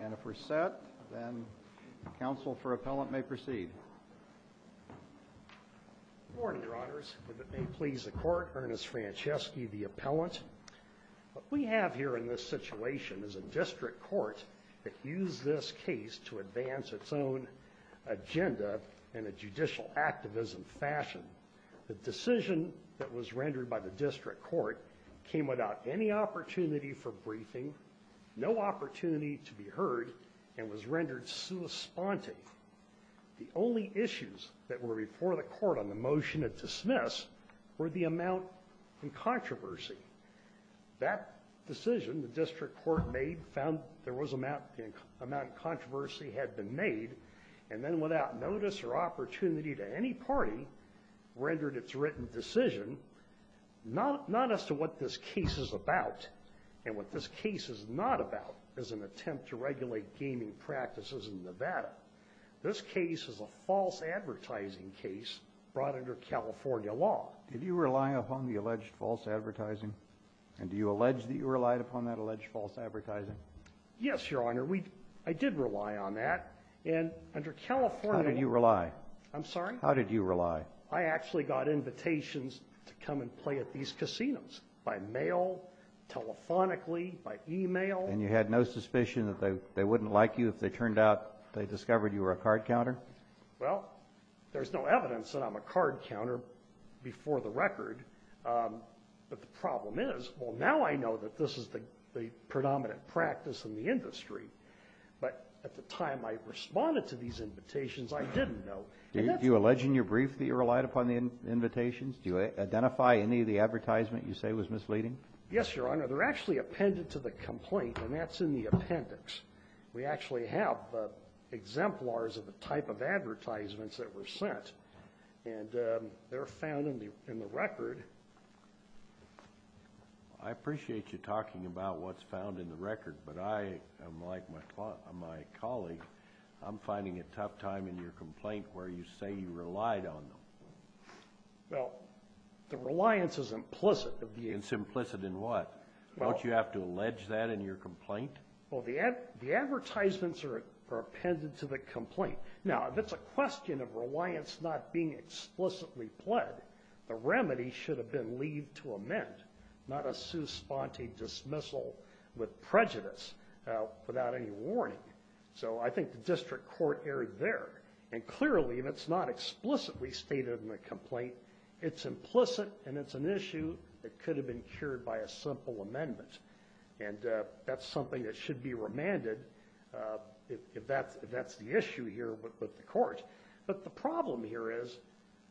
And if we're set, then counsel for appellant may proceed. Good morning, Your Honors. If it may please the Court, Ernest Franceschi, the appellant. What we have here in this situation is a district court that used this case to advance its own agenda in a judicial activism fashion. The decision that was rendered by the district court came without any opportunity for briefing, no opportunity to be heard, and was rendered sui sponte. The only issues that were before the court on the motion of dismiss were the amount in controversy. That decision, the district court made, found there was amount of controversy had been made, and then without notice or opportunity to any party, rendered its written decision. Not as to what this case is about, and what this case is not about, is an attempt to regulate gaming practices in Nevada. This case is a false advertising case brought under California law. Did you rely upon the alleged false advertising? And do you allege that you relied upon that alleged false advertising? Yes, Your Honor. We – I did rely on that. And under California – How did you rely? I'm sorry? How did you rely? I actually got invitations to come and play at these casinos by mail, telephonically, by e-mail. And you had no suspicion that they wouldn't like you if they turned out they discovered you were a card counter? Well, there's no evidence that I'm a card counter before the record. But the problem is, well, now I know that this is the predominant practice in the industry. But at the time I responded to these invitations, I didn't know. Do you allege in your brief that you relied upon the invitations? Do you identify any of the advertisement you say was misleading? Yes, Your Honor. They're actually appended to the complaint, and that's in the appendix. We actually have exemplars of the type of advertisements that were sent. And they're found in the record. I appreciate you talking about what's found in the record, but I am like my colleague. I'm finding a tough time in your complaint where you say you relied on them. Well, the reliance is implicit. It's implicit in what? Don't you have to allege that in your complaint? Well, the advertisements are appended to the complaint. Now, if it's a question of reliance not being explicitly pled, the remedy should have been leave to amend, not a su sponte dismissal with prejudice without any warning. So I think the district court erred there. And clearly, if it's not explicitly stated in the complaint, it's implicit, and it's an issue that could have been cured by a simple amendment. And that's something that should be remanded if that's the issue here with the court. But the problem here is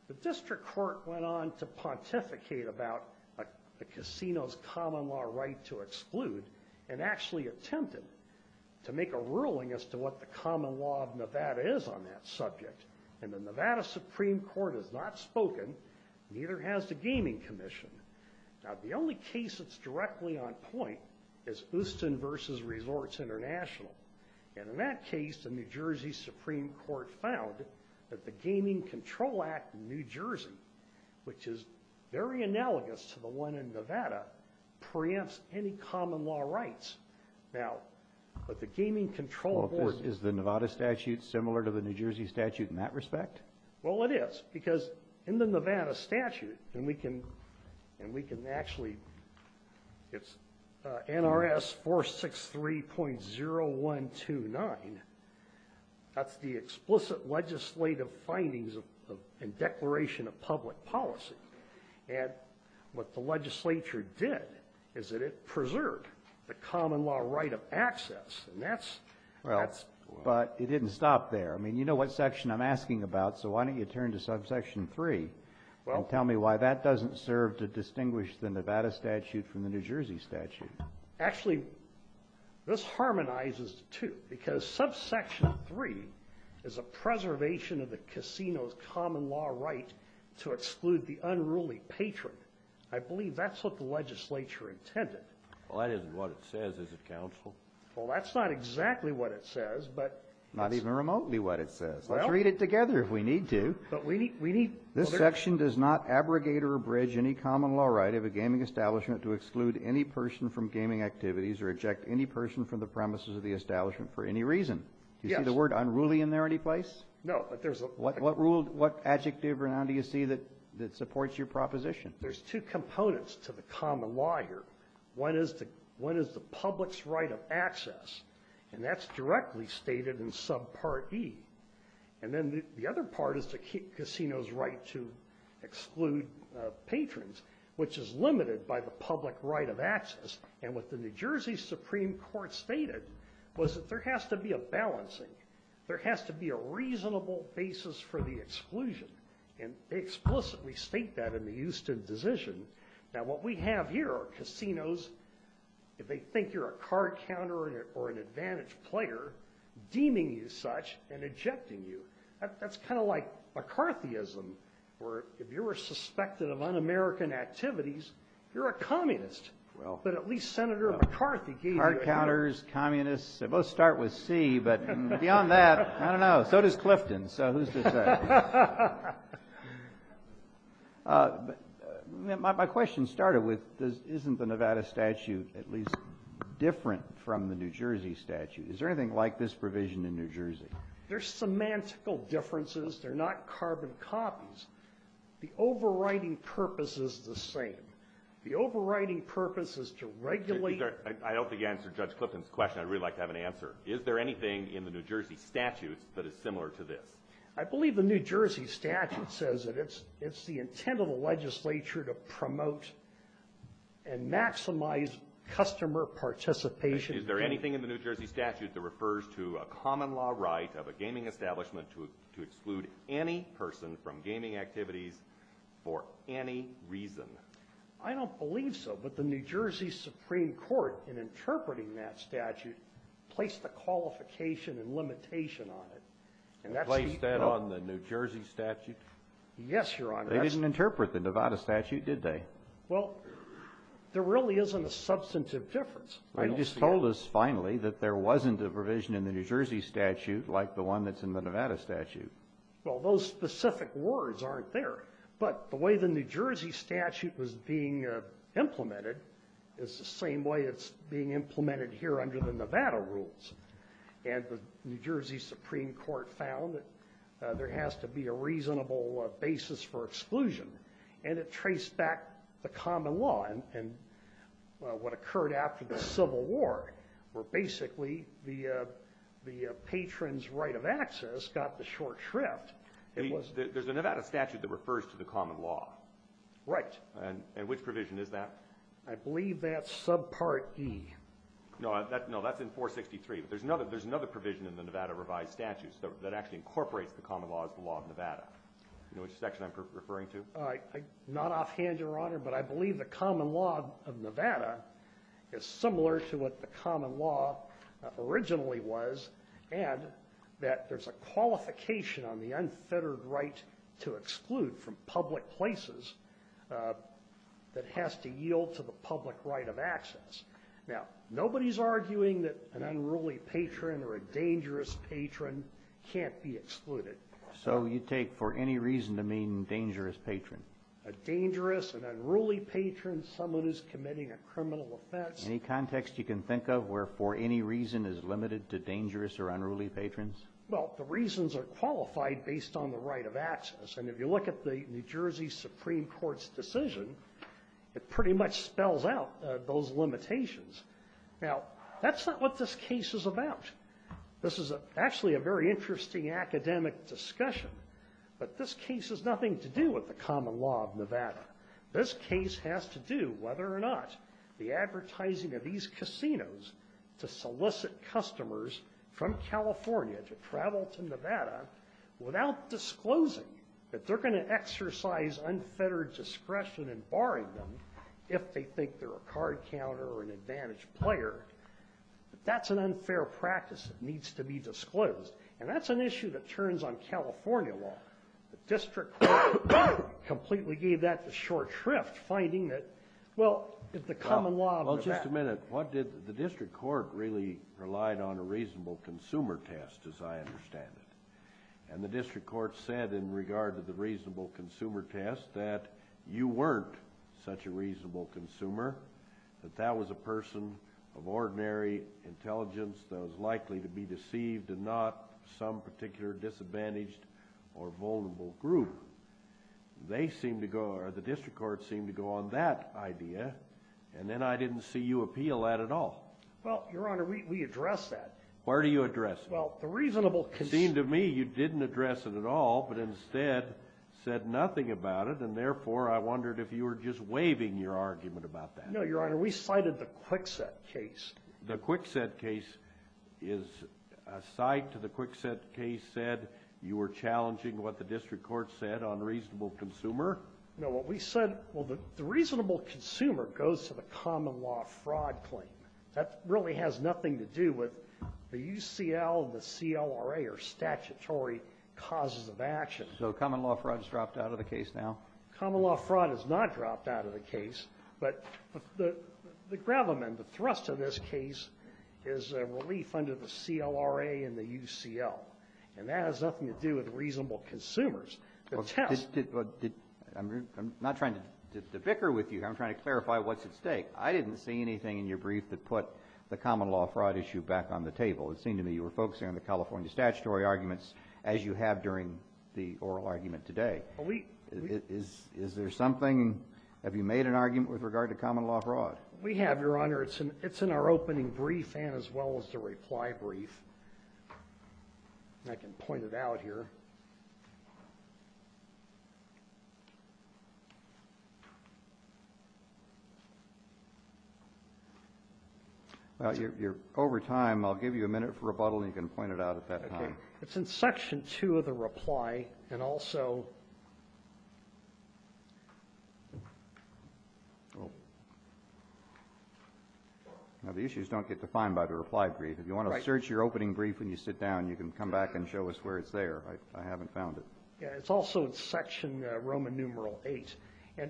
the district court went on to pontificate about a casino's common law right to exclude and actually attempted to make a ruling as to what the common law of Nevada is on that subject. And the Nevada Supreme Court has not spoken, neither has the Gaming Commission. Now, the only case that's directly on point is Houston v. Resorts International. And in that case, the New Jersey Supreme Court found that the Gaming Control Act in New Jersey, which is very analogous to the one in Nevada, preempts any common law rights. Now, but the Gaming Control Court is the Nevada statute similar to the New Jersey statute in that respect? Well, it is. Because in the Nevada statute, and we can actually ‑‑ it's NRS 463.0129. That's the explicit legislative findings and declaration of public policy. And what the legislature did is that it preserved the common law right of access. And that's ‑‑ Well, but it didn't stop there. I mean, you know what section I'm asking about, so why don't you turn to subsection 3 and tell me why that doesn't serve to distinguish the Nevada statute from the New Jersey statute. Actually, this harmonizes the two. Because subsection 3 is a preservation of the casino's common law right to exclude the unruly patron. I believe that's what the legislature intended. Well, that isn't what it says, is it, counsel? Well, that's not exactly what it says, but ‑‑ Not even remotely what it says. Well ‑‑ Let's read it together if we need to. But we need ‑‑ This section does not abrogate or abridge any common law right of a gaming establishment to exclude any person from gaming activities or eject any person from the premises of the establishment for any reason. Yes. Do you see the word unruly in there any place? No, but there's a ‑‑ What rule, what adjective or noun do you see that supports your proposition? There's two components to the common law here. One is the public's right of access. And that's directly stated in subpart E. And then the other part is the casino's right to exclude patrons, which is limited by the public right of access. And what the New Jersey Supreme Court stated was that there has to be a balancing. There has to be a reasonable basis for the exclusion. And they explicitly state that in the Houston decision. Now, what we have here are casinos, if they think you're a card counter or an advantaged player, deeming you such and ejecting you. That's kind of like McCarthyism, where if you're suspected of un‑American activities, you're a communist. But at least Senator McCarthy gave you ‑‑ Card counters, communists, they both start with C. But beyond that, I don't know. So does Clifton. So who's to say? My question started with, isn't the Nevada statute at least different from the New Jersey statute? Is there anything like this provision in New Jersey? There's semantical differences. They're not carbon copies. The overriding purpose is the same. The overriding purpose is to regulate ‑‑ I don't think you answered Judge Clifton's question. I'd really like to have an answer. Is there anything in the New Jersey statutes that is similar to this? I believe the New Jersey statute says that it's the intent of the legislature to promote and maximize customer participation. Is there anything in the New Jersey statute that refers to a common law right of a gaming establishment to exclude any person from gaming activities for any reason? I don't believe so. But the New Jersey Supreme Court, in interpreting that statute, placed a qualification and limitation on it. Placed that on the New Jersey statute? Yes, Your Honor. They didn't interpret the Nevada statute, did they? Well, there really isn't a substantive difference. Well, you just told us finally that there wasn't a provision in the New Jersey statute like the one that's in the Nevada statute. Well, those specific words aren't there. But the way the New Jersey statute was being implemented is the same way it's being implemented here under the Nevada rules. And the New Jersey Supreme Court found that there has to be a reasonable basis for exclusion. And it traced back the common law and what occurred after the Civil War where basically the patron's right of access got the short shrift. There's a Nevada statute that refers to the common law. Right. And which provision is that? I believe that's subpart E. No, that's in 463. But there's another provision in the Nevada revised statute that actually incorporates the common law as the law of Nevada. You know which section I'm referring to? Not offhand, Your Honor, but I believe the common law of Nevada is similar to what the common law originally was and that there's a qualification on the unfettered right to exclude from public places that has to yield to the public right of access. Now, nobody's arguing that an unruly patron or a dangerous patron can't be excluded. So you take for any reason to mean dangerous patron? A dangerous, an unruly patron, someone who's committing a criminal offense. Any context you can think of where for any reason is limited to dangerous or unruly patrons? Well, the reasons are qualified based on the right of access. And if you look at the New Jersey Supreme Court's decision, it pretty much spells out those limitations. Now, that's not what this case is about. This is actually a very interesting academic discussion. But this case has nothing to do with the common law of Nevada. This case has to do whether or not the advertising of these casinos to solicit customers from California to travel to Nevada without disclosing that they're going to exercise unfettered discretion in barring them if they think they're a card counter or an advantaged player. That's an unfair practice that needs to be disclosed. And that's an issue that turns on California law. The district court completely gave that the short shrift, finding that, well, the common law of Nevada. Just a minute. The district court really relied on a reasonable consumer test, as I understand it. And the district court said in regard to the reasonable consumer test that you weren't such a reasonable consumer, that that was a person of ordinary intelligence that was likely to be deceived and not some particular disadvantaged or vulnerable group. They seemed to go, or the district court seemed to go on that idea. And then I didn't see you appeal that at all. Well, Your Honor, we addressed that. Where do you address it? Well, the reasonable consumer. It seemed to me you didn't address it at all, but instead said nothing about it. And therefore, I wondered if you were just waving your argument about that. No, Your Honor. We cited the Kwikset case. The Kwikset case is a cite to the Kwikset case said you were challenging what the district court said on reasonable consumer. No. What we said, well, the reasonable consumer goes to the common law fraud claim. That really has nothing to do with the UCL and the CLRA or statutory causes of action. So common law fraud is dropped out of the case now? Common law fraud is not dropped out of the case. But the gravamen, the thrust of this case, is a relief under the CLRA and the UCL. And that has nothing to do with reasonable consumers. I'm not trying to bicker with you. I'm trying to clarify what's at stake. I didn't see anything in your brief that put the common law fraud issue back on the table. It seemed to me you were focusing on the California statutory arguments as you have during the oral argument today. Is there something? Have you made an argument with regard to common law fraud? We have, Your Honor. It's in our opening brief and as well as the reply brief. I can point it out here. Over time, I'll give you a minute for rebuttal and you can point it out at that time. Okay. It's in section 2 of the reply and also. Now, the issues don't get defined by the reply brief. If you want to search your opening brief when you sit down, you can come back and show us where it's there. I haven't found it. It's also in section Roman numeral 8. And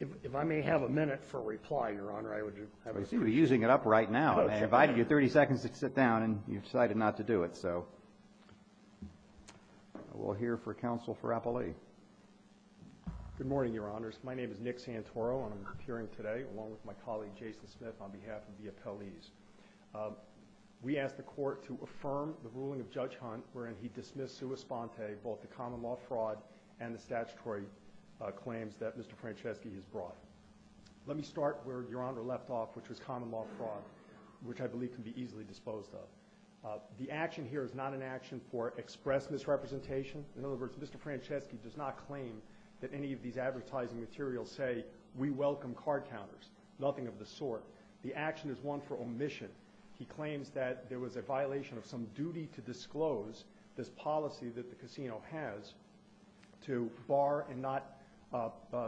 if I may have a minute for reply, Your Honor, I would have it. I see you're using it up right now. I invited you 30 seconds to sit down and you decided not to do it, so. We'll hear for counsel for Appellee. Good morning, Your Honors. My name is Nick Santoro and I'm appearing today along with my colleague Jason Smith on behalf of the appellees. We ask the Court to affirm the ruling of Judge Hunt wherein he dismissed sua sponte both the common law fraud and the statutory claims that Mr. Franceschi has brought. Let me start where Your Honor left off, which was common law fraud, which I believe can be easily disposed of. The action here is not an action for express misrepresentation. In other words, Mr. Franceschi does not claim that any of these advertising materials say we welcome card counters, nothing of the sort. The action is one for omission. He claims that there was a violation of some duty to disclose this policy that the casino has to bar and not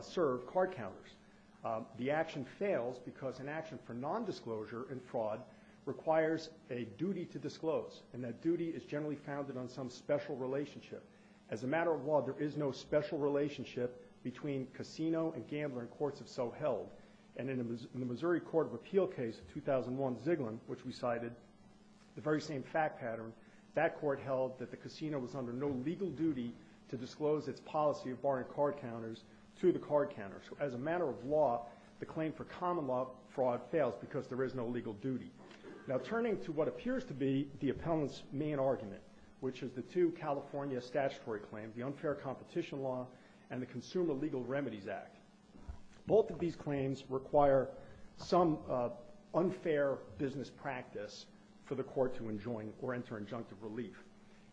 serve card counters. The action fails because an action for nondisclosure in fraud requires a duty to disclose, and that duty is generally founded on some special relationship. As a matter of law, there is no special relationship between casino and gambler in courts of so held. And in the Missouri Court of Appeal case of 2001 Ziegler, which we cited, the very same fact pattern, that court held that the casino was under no legal duty to disclose its policy of barring card counters to the card counters. So as a matter of law, the claim for common law fraud fails because there is no legal duty. Now, turning to what appears to be the appellant's main argument, which is the two California statutory claims, the unfair competition law and the Consumer Legal Remedies Act, both of these claims require some unfair business practice for the court to enjoin or enter injunctive relief.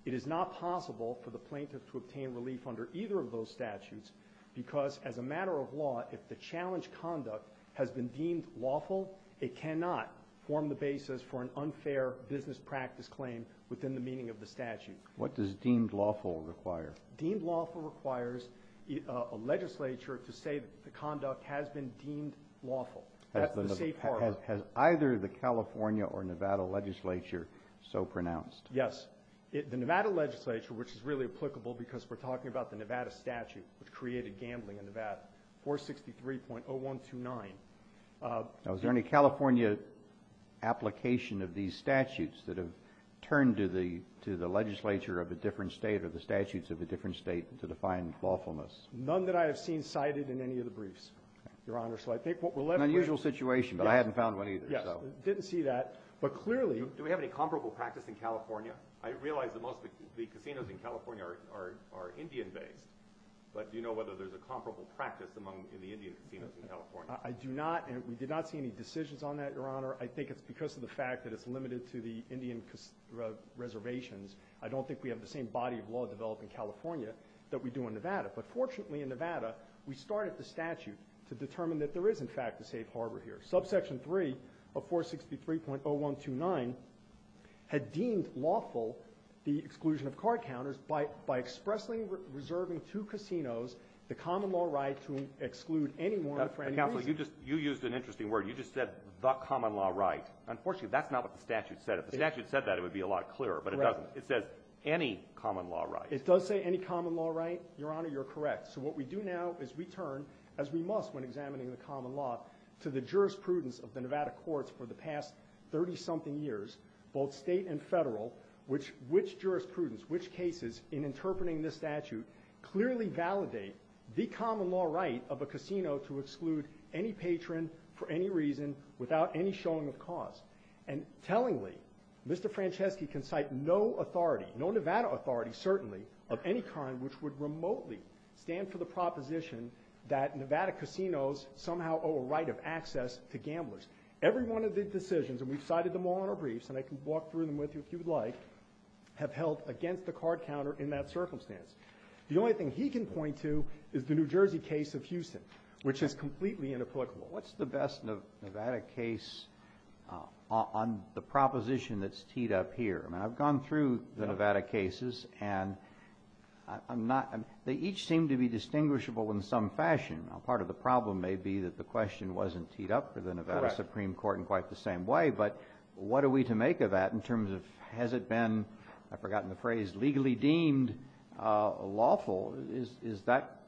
It is not possible for the plaintiff to obtain relief under either of those statutes because as a matter of law, if the challenge conduct has been deemed lawful, it cannot form the basis for an unfair business practice claim within the meaning of the statute. What does deemed lawful require? Deemed lawful requires a legislature to say that the conduct has been deemed lawful. That's the safe part. Has either the California or Nevada legislature so pronounced? Yes. The Nevada legislature, which is really applicable because we're talking about the Nevada statute, which created gambling in Nevada, 463.0129. Now, is there any California application of these statutes that have turned to the legislature of a different state or the statutes of a different state to define lawfulness? None that I have seen cited in any of the briefs, Your Honor. So I think what we're left with – An unusual situation, but I hadn't found one either. Yes, didn't see that. But clearly – Do we have any comparable practice in California? I realize that most of the casinos in California are Indian-based, but do you know whether there's a comparable practice among the Indian casinos in California? I do not, and we did not see any decisions on that, Your Honor. I think it's because of the fact that it's limited to the Indian reservations. I don't think we have the same body of law developed in California that we do in Nevada. But fortunately, in Nevada, we started the statute to determine that there is, in fact, a safe harbor here. Subsection 3 of 463.0129 had deemed lawful the exclusion of card counters by expressly reserving to casinos the common law right to exclude anyone for any reason. Counsel, you just – you used an interesting word. You just said the common law right. Unfortunately, that's not what the statute said. If the statute said that, it would be a lot clearer, but it doesn't. It says any common law right. It does say any common law right, Your Honor. You're correct. So what we do now is we turn, as we must when examining the common law, to the jurisprudence of the Nevada courts for the past 30-something years, both state and federal, which jurisprudence, which cases in interpreting this statute, clearly validate the common law right of a casino to exclude any patron for any reason without any showing of cause. And tellingly, Mr. Franceschi can cite no authority, no Nevada authority certainly, of any kind which would remotely stand for the proposition that Nevada casinos somehow owe a right of access to gamblers. Every one of these decisions, and we've cited them all in our briefs, and I can walk through them with you if you would like, have held against the card counter in that circumstance. The only thing he can point to is the New Jersey case of Houston, which is completely inapplicable. What's the best Nevada case on the proposition that's teed up here? I've gone through the Nevada cases, and they each seem to be distinguishable in some fashion. Part of the problem may be that the question wasn't teed up for the Nevada Supreme Court in quite the same way, but what are we to make of that in terms of has it been, I've forgotten the phrase, legally deemed lawful? Is that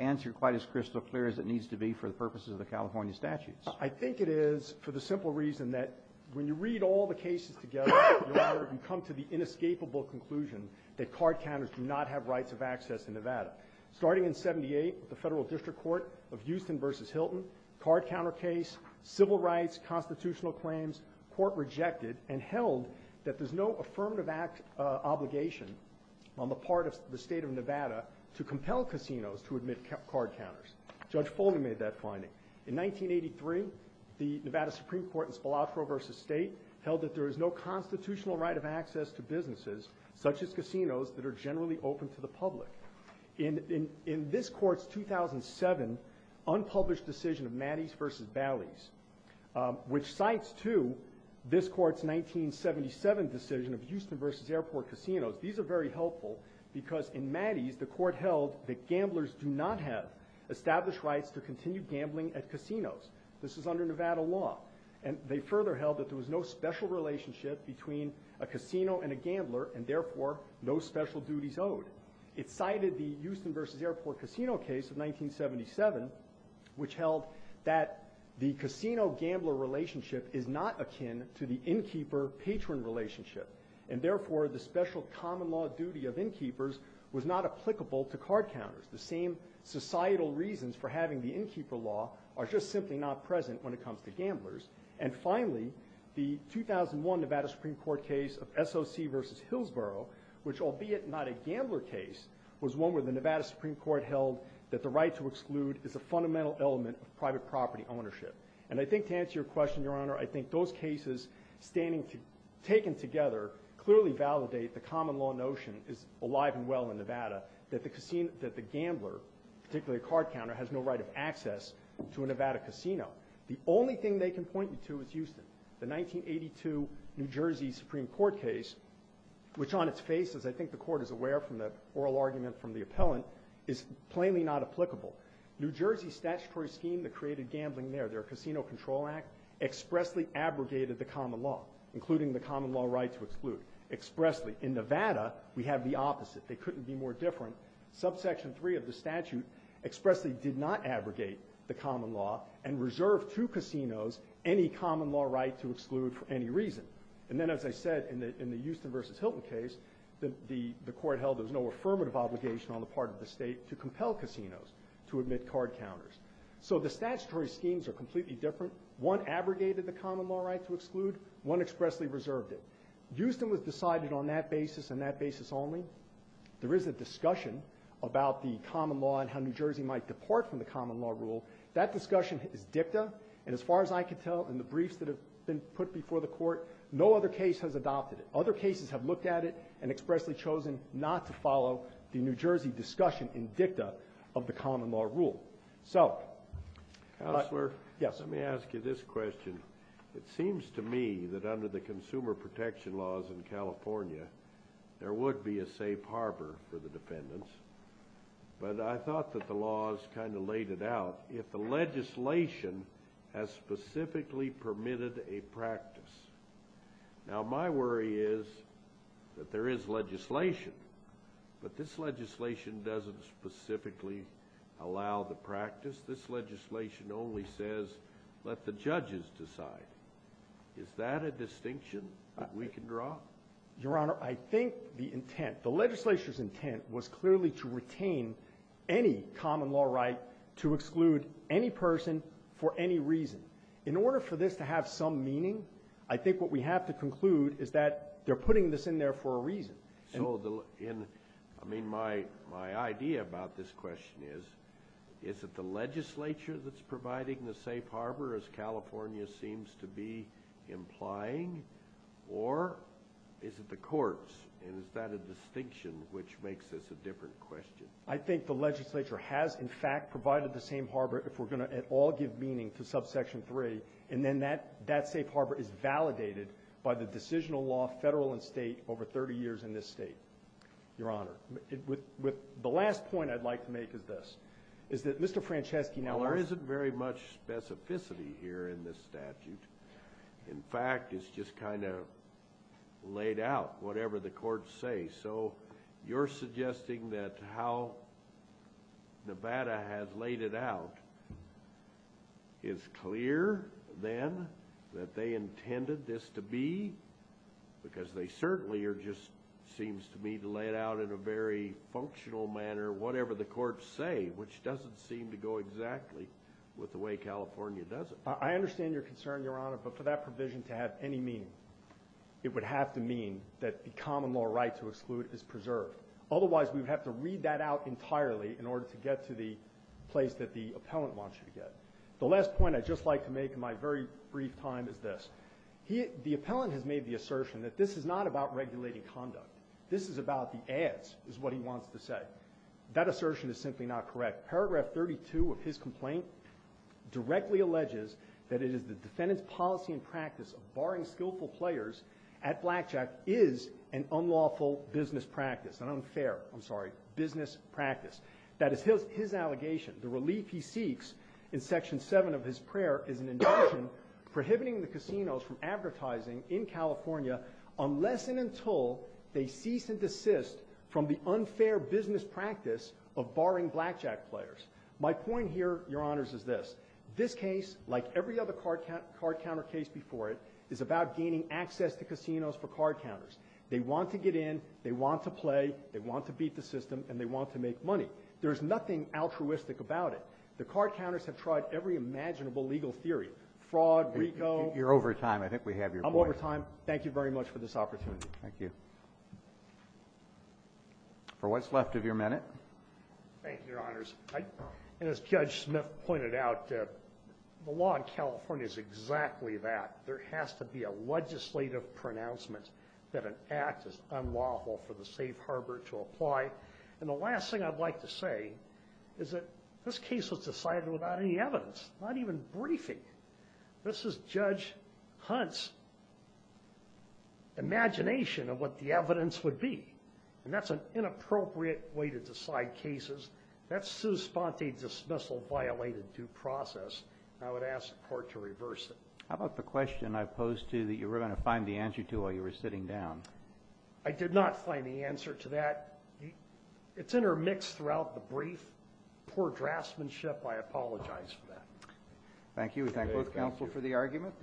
answer quite as crystal clear as it needs to be for the purposes of the California statutes? I think it is for the simple reason that when you read all the cases together, Your Honor, you come to the inescapable conclusion that card counters do not have rights of access in Nevada. Starting in 78, the Federal District Court of Houston v. Hilton, card counter case, civil rights, constitutional claims, court rejected and held that there's no affirmative act on the part of the State of Nevada to compel casinos to admit card counters. Judge Foley made that finding. In 1983, the Nevada Supreme Court in Spalatro v. State held that there is no constitutional right of access to businesses, such as casinos, that are generally open to the public. In this Court's 2007 unpublished decision of Matties v. Bally's, which cites, too, this Court's 1977 decision of These are very helpful because in Matties the Court held that gamblers do not have established rights to continue gambling at casinos. This is under Nevada law, and they further held that there was no special relationship between a casino and a gambler, and therefore no special duties owed. It cited the Houston v. Airport casino case of 1977, which held that the casino-gambler relationship is not akin to the innkeeper-patron relationship, and therefore the special common-law duty of innkeepers was not applicable to card counters. The same societal reasons for having the innkeeper law are just simply not present when it comes to gamblers. And finally, the 2001 Nevada Supreme Court case of S.O.C. v. Hillsborough, which, albeit not a gambler case, was one where the Nevada Supreme Court held that the right to exclude is a fundamental element of private property ownership. And I think to answer your question, Your Honor, I think those cases standing together clearly validate the common-law notion, alive and well in Nevada, that the gambler, particularly a card counter, has no right of access to a Nevada casino. The only thing they can point you to is Houston. The 1982 New Jersey Supreme Court case, which on its face, as I think the Court is aware from the oral argument from the appellant, is plainly not applicable. New Jersey statutory scheme that created gambling there, their Casino Control Act, expressly abrogated the common law, including the common-law right to exclude, expressly. In Nevada, we have the opposite. They couldn't be more different. Subsection 3 of the statute expressly did not abrogate the common law and reserve to casinos any common-law right to exclude for any reason. And then, as I said, in the Houston v. Hilton case, the Court held there was no affirmative obligation on the part of the State to compel casinos. to admit card counters. So the statutory schemes are completely different. One abrogated the common-law right to exclude. One expressly reserved it. Houston was decided on that basis and that basis only. There is a discussion about the common law and how New Jersey might depart from the common-law rule. That discussion is dicta. And as far as I can tell, in the briefs that have been put before the Court, no other case has adopted it. Other cases have looked at it and expressly chosen not to follow the New Jersey discussion in dicta of the common-law rule. So. Counselor. Yes. Let me ask you this question. It seems to me that under the consumer protection laws in California, there would be a safe harbor for the defendants. But I thought that the laws kind of laid it out. If the legislation has specifically permitted a practice. Now, my worry is that there is legislation. But this legislation doesn't specifically allow the practice. This legislation only says let the judges decide. Is that a distinction that we can draw? Your Honor, I think the intent, the legislature's intent was clearly to retain any common-law right to exclude any person for any reason. In order for this to have some meaning, I think what we have to conclude is that they're putting this in there for a reason. So, I mean, my idea about this question is, is it the legislature that's providing the safe harbor as California seems to be implying? Or is it the courts? And is that a distinction which makes this a different question? I think the legislature has, in fact, provided the same harbor if we're going to at all give meaning to subsection 3. And then that safe harbor is validated by the decisional law, federal and state, over 30 years in this state. Your Honor, the last point I'd like to make is this, is that Mr. Franceschi now There isn't very much specificity here in this statute. In fact, it's just kind of laid out, whatever the courts say. So you're suggesting that how Nevada has laid it out is clear, then, that they seems to me to lay it out in a very functional manner, whatever the courts say, which doesn't seem to go exactly with the way California does it. I understand your concern, Your Honor, but for that provision to have any meaning, it would have to mean that the common law right to exclude is preserved. Otherwise, we would have to read that out entirely in order to get to the place that the appellant wants you to get. The last point I'd just like to make in my very brief time is this. The appellant has made the assertion that this is not about regulating conduct. This is about the ads, is what he wants to say. That assertion is simply not correct. Paragraph 32 of his complaint directly alleges that it is the defendant's policy and practice of barring skillful players at blackjack is an unlawful business practice, an unfair, I'm sorry, business practice. That is his allegation. The relief he seeks in Section 7 of his prayer is an induction prohibiting the casinos from advertising in California unless and until they cease and desist from the unfair business practice of barring blackjack players. My point here, Your Honors, is this. This case, like every other card counter case before it, is about gaining access to casinos for card counters. They want to get in. They want to play. They want to beat the system. And they want to make money. There is nothing altruistic about it. The card counters have tried every imaginable legal theory, fraud, RICO. You're over time. I think we have your voice. I'm over time. Thank you very much for this opportunity. Thank you. For what's left of your minute. Thank you, Your Honors. And as Judge Smith pointed out, the law in California is exactly that. There has to be a legislative pronouncement that an act is unlawful for the safe harbor to apply. And the last thing I'd like to say is that this case was decided without any evidence, not even briefing. This is Judge Hunt's imagination of what the evidence would be. And that's an inappropriate way to decide cases. That's sous-spante dismissal violated due process. And I would ask the Court to reverse it. How about the question I posed to you that you were going to find the answer to while you were sitting down? I did not find the answer to that. It's intermixed throughout the brief. Poor draftsmanship. I apologize for that. Thank you. We thank both counsel for the argument.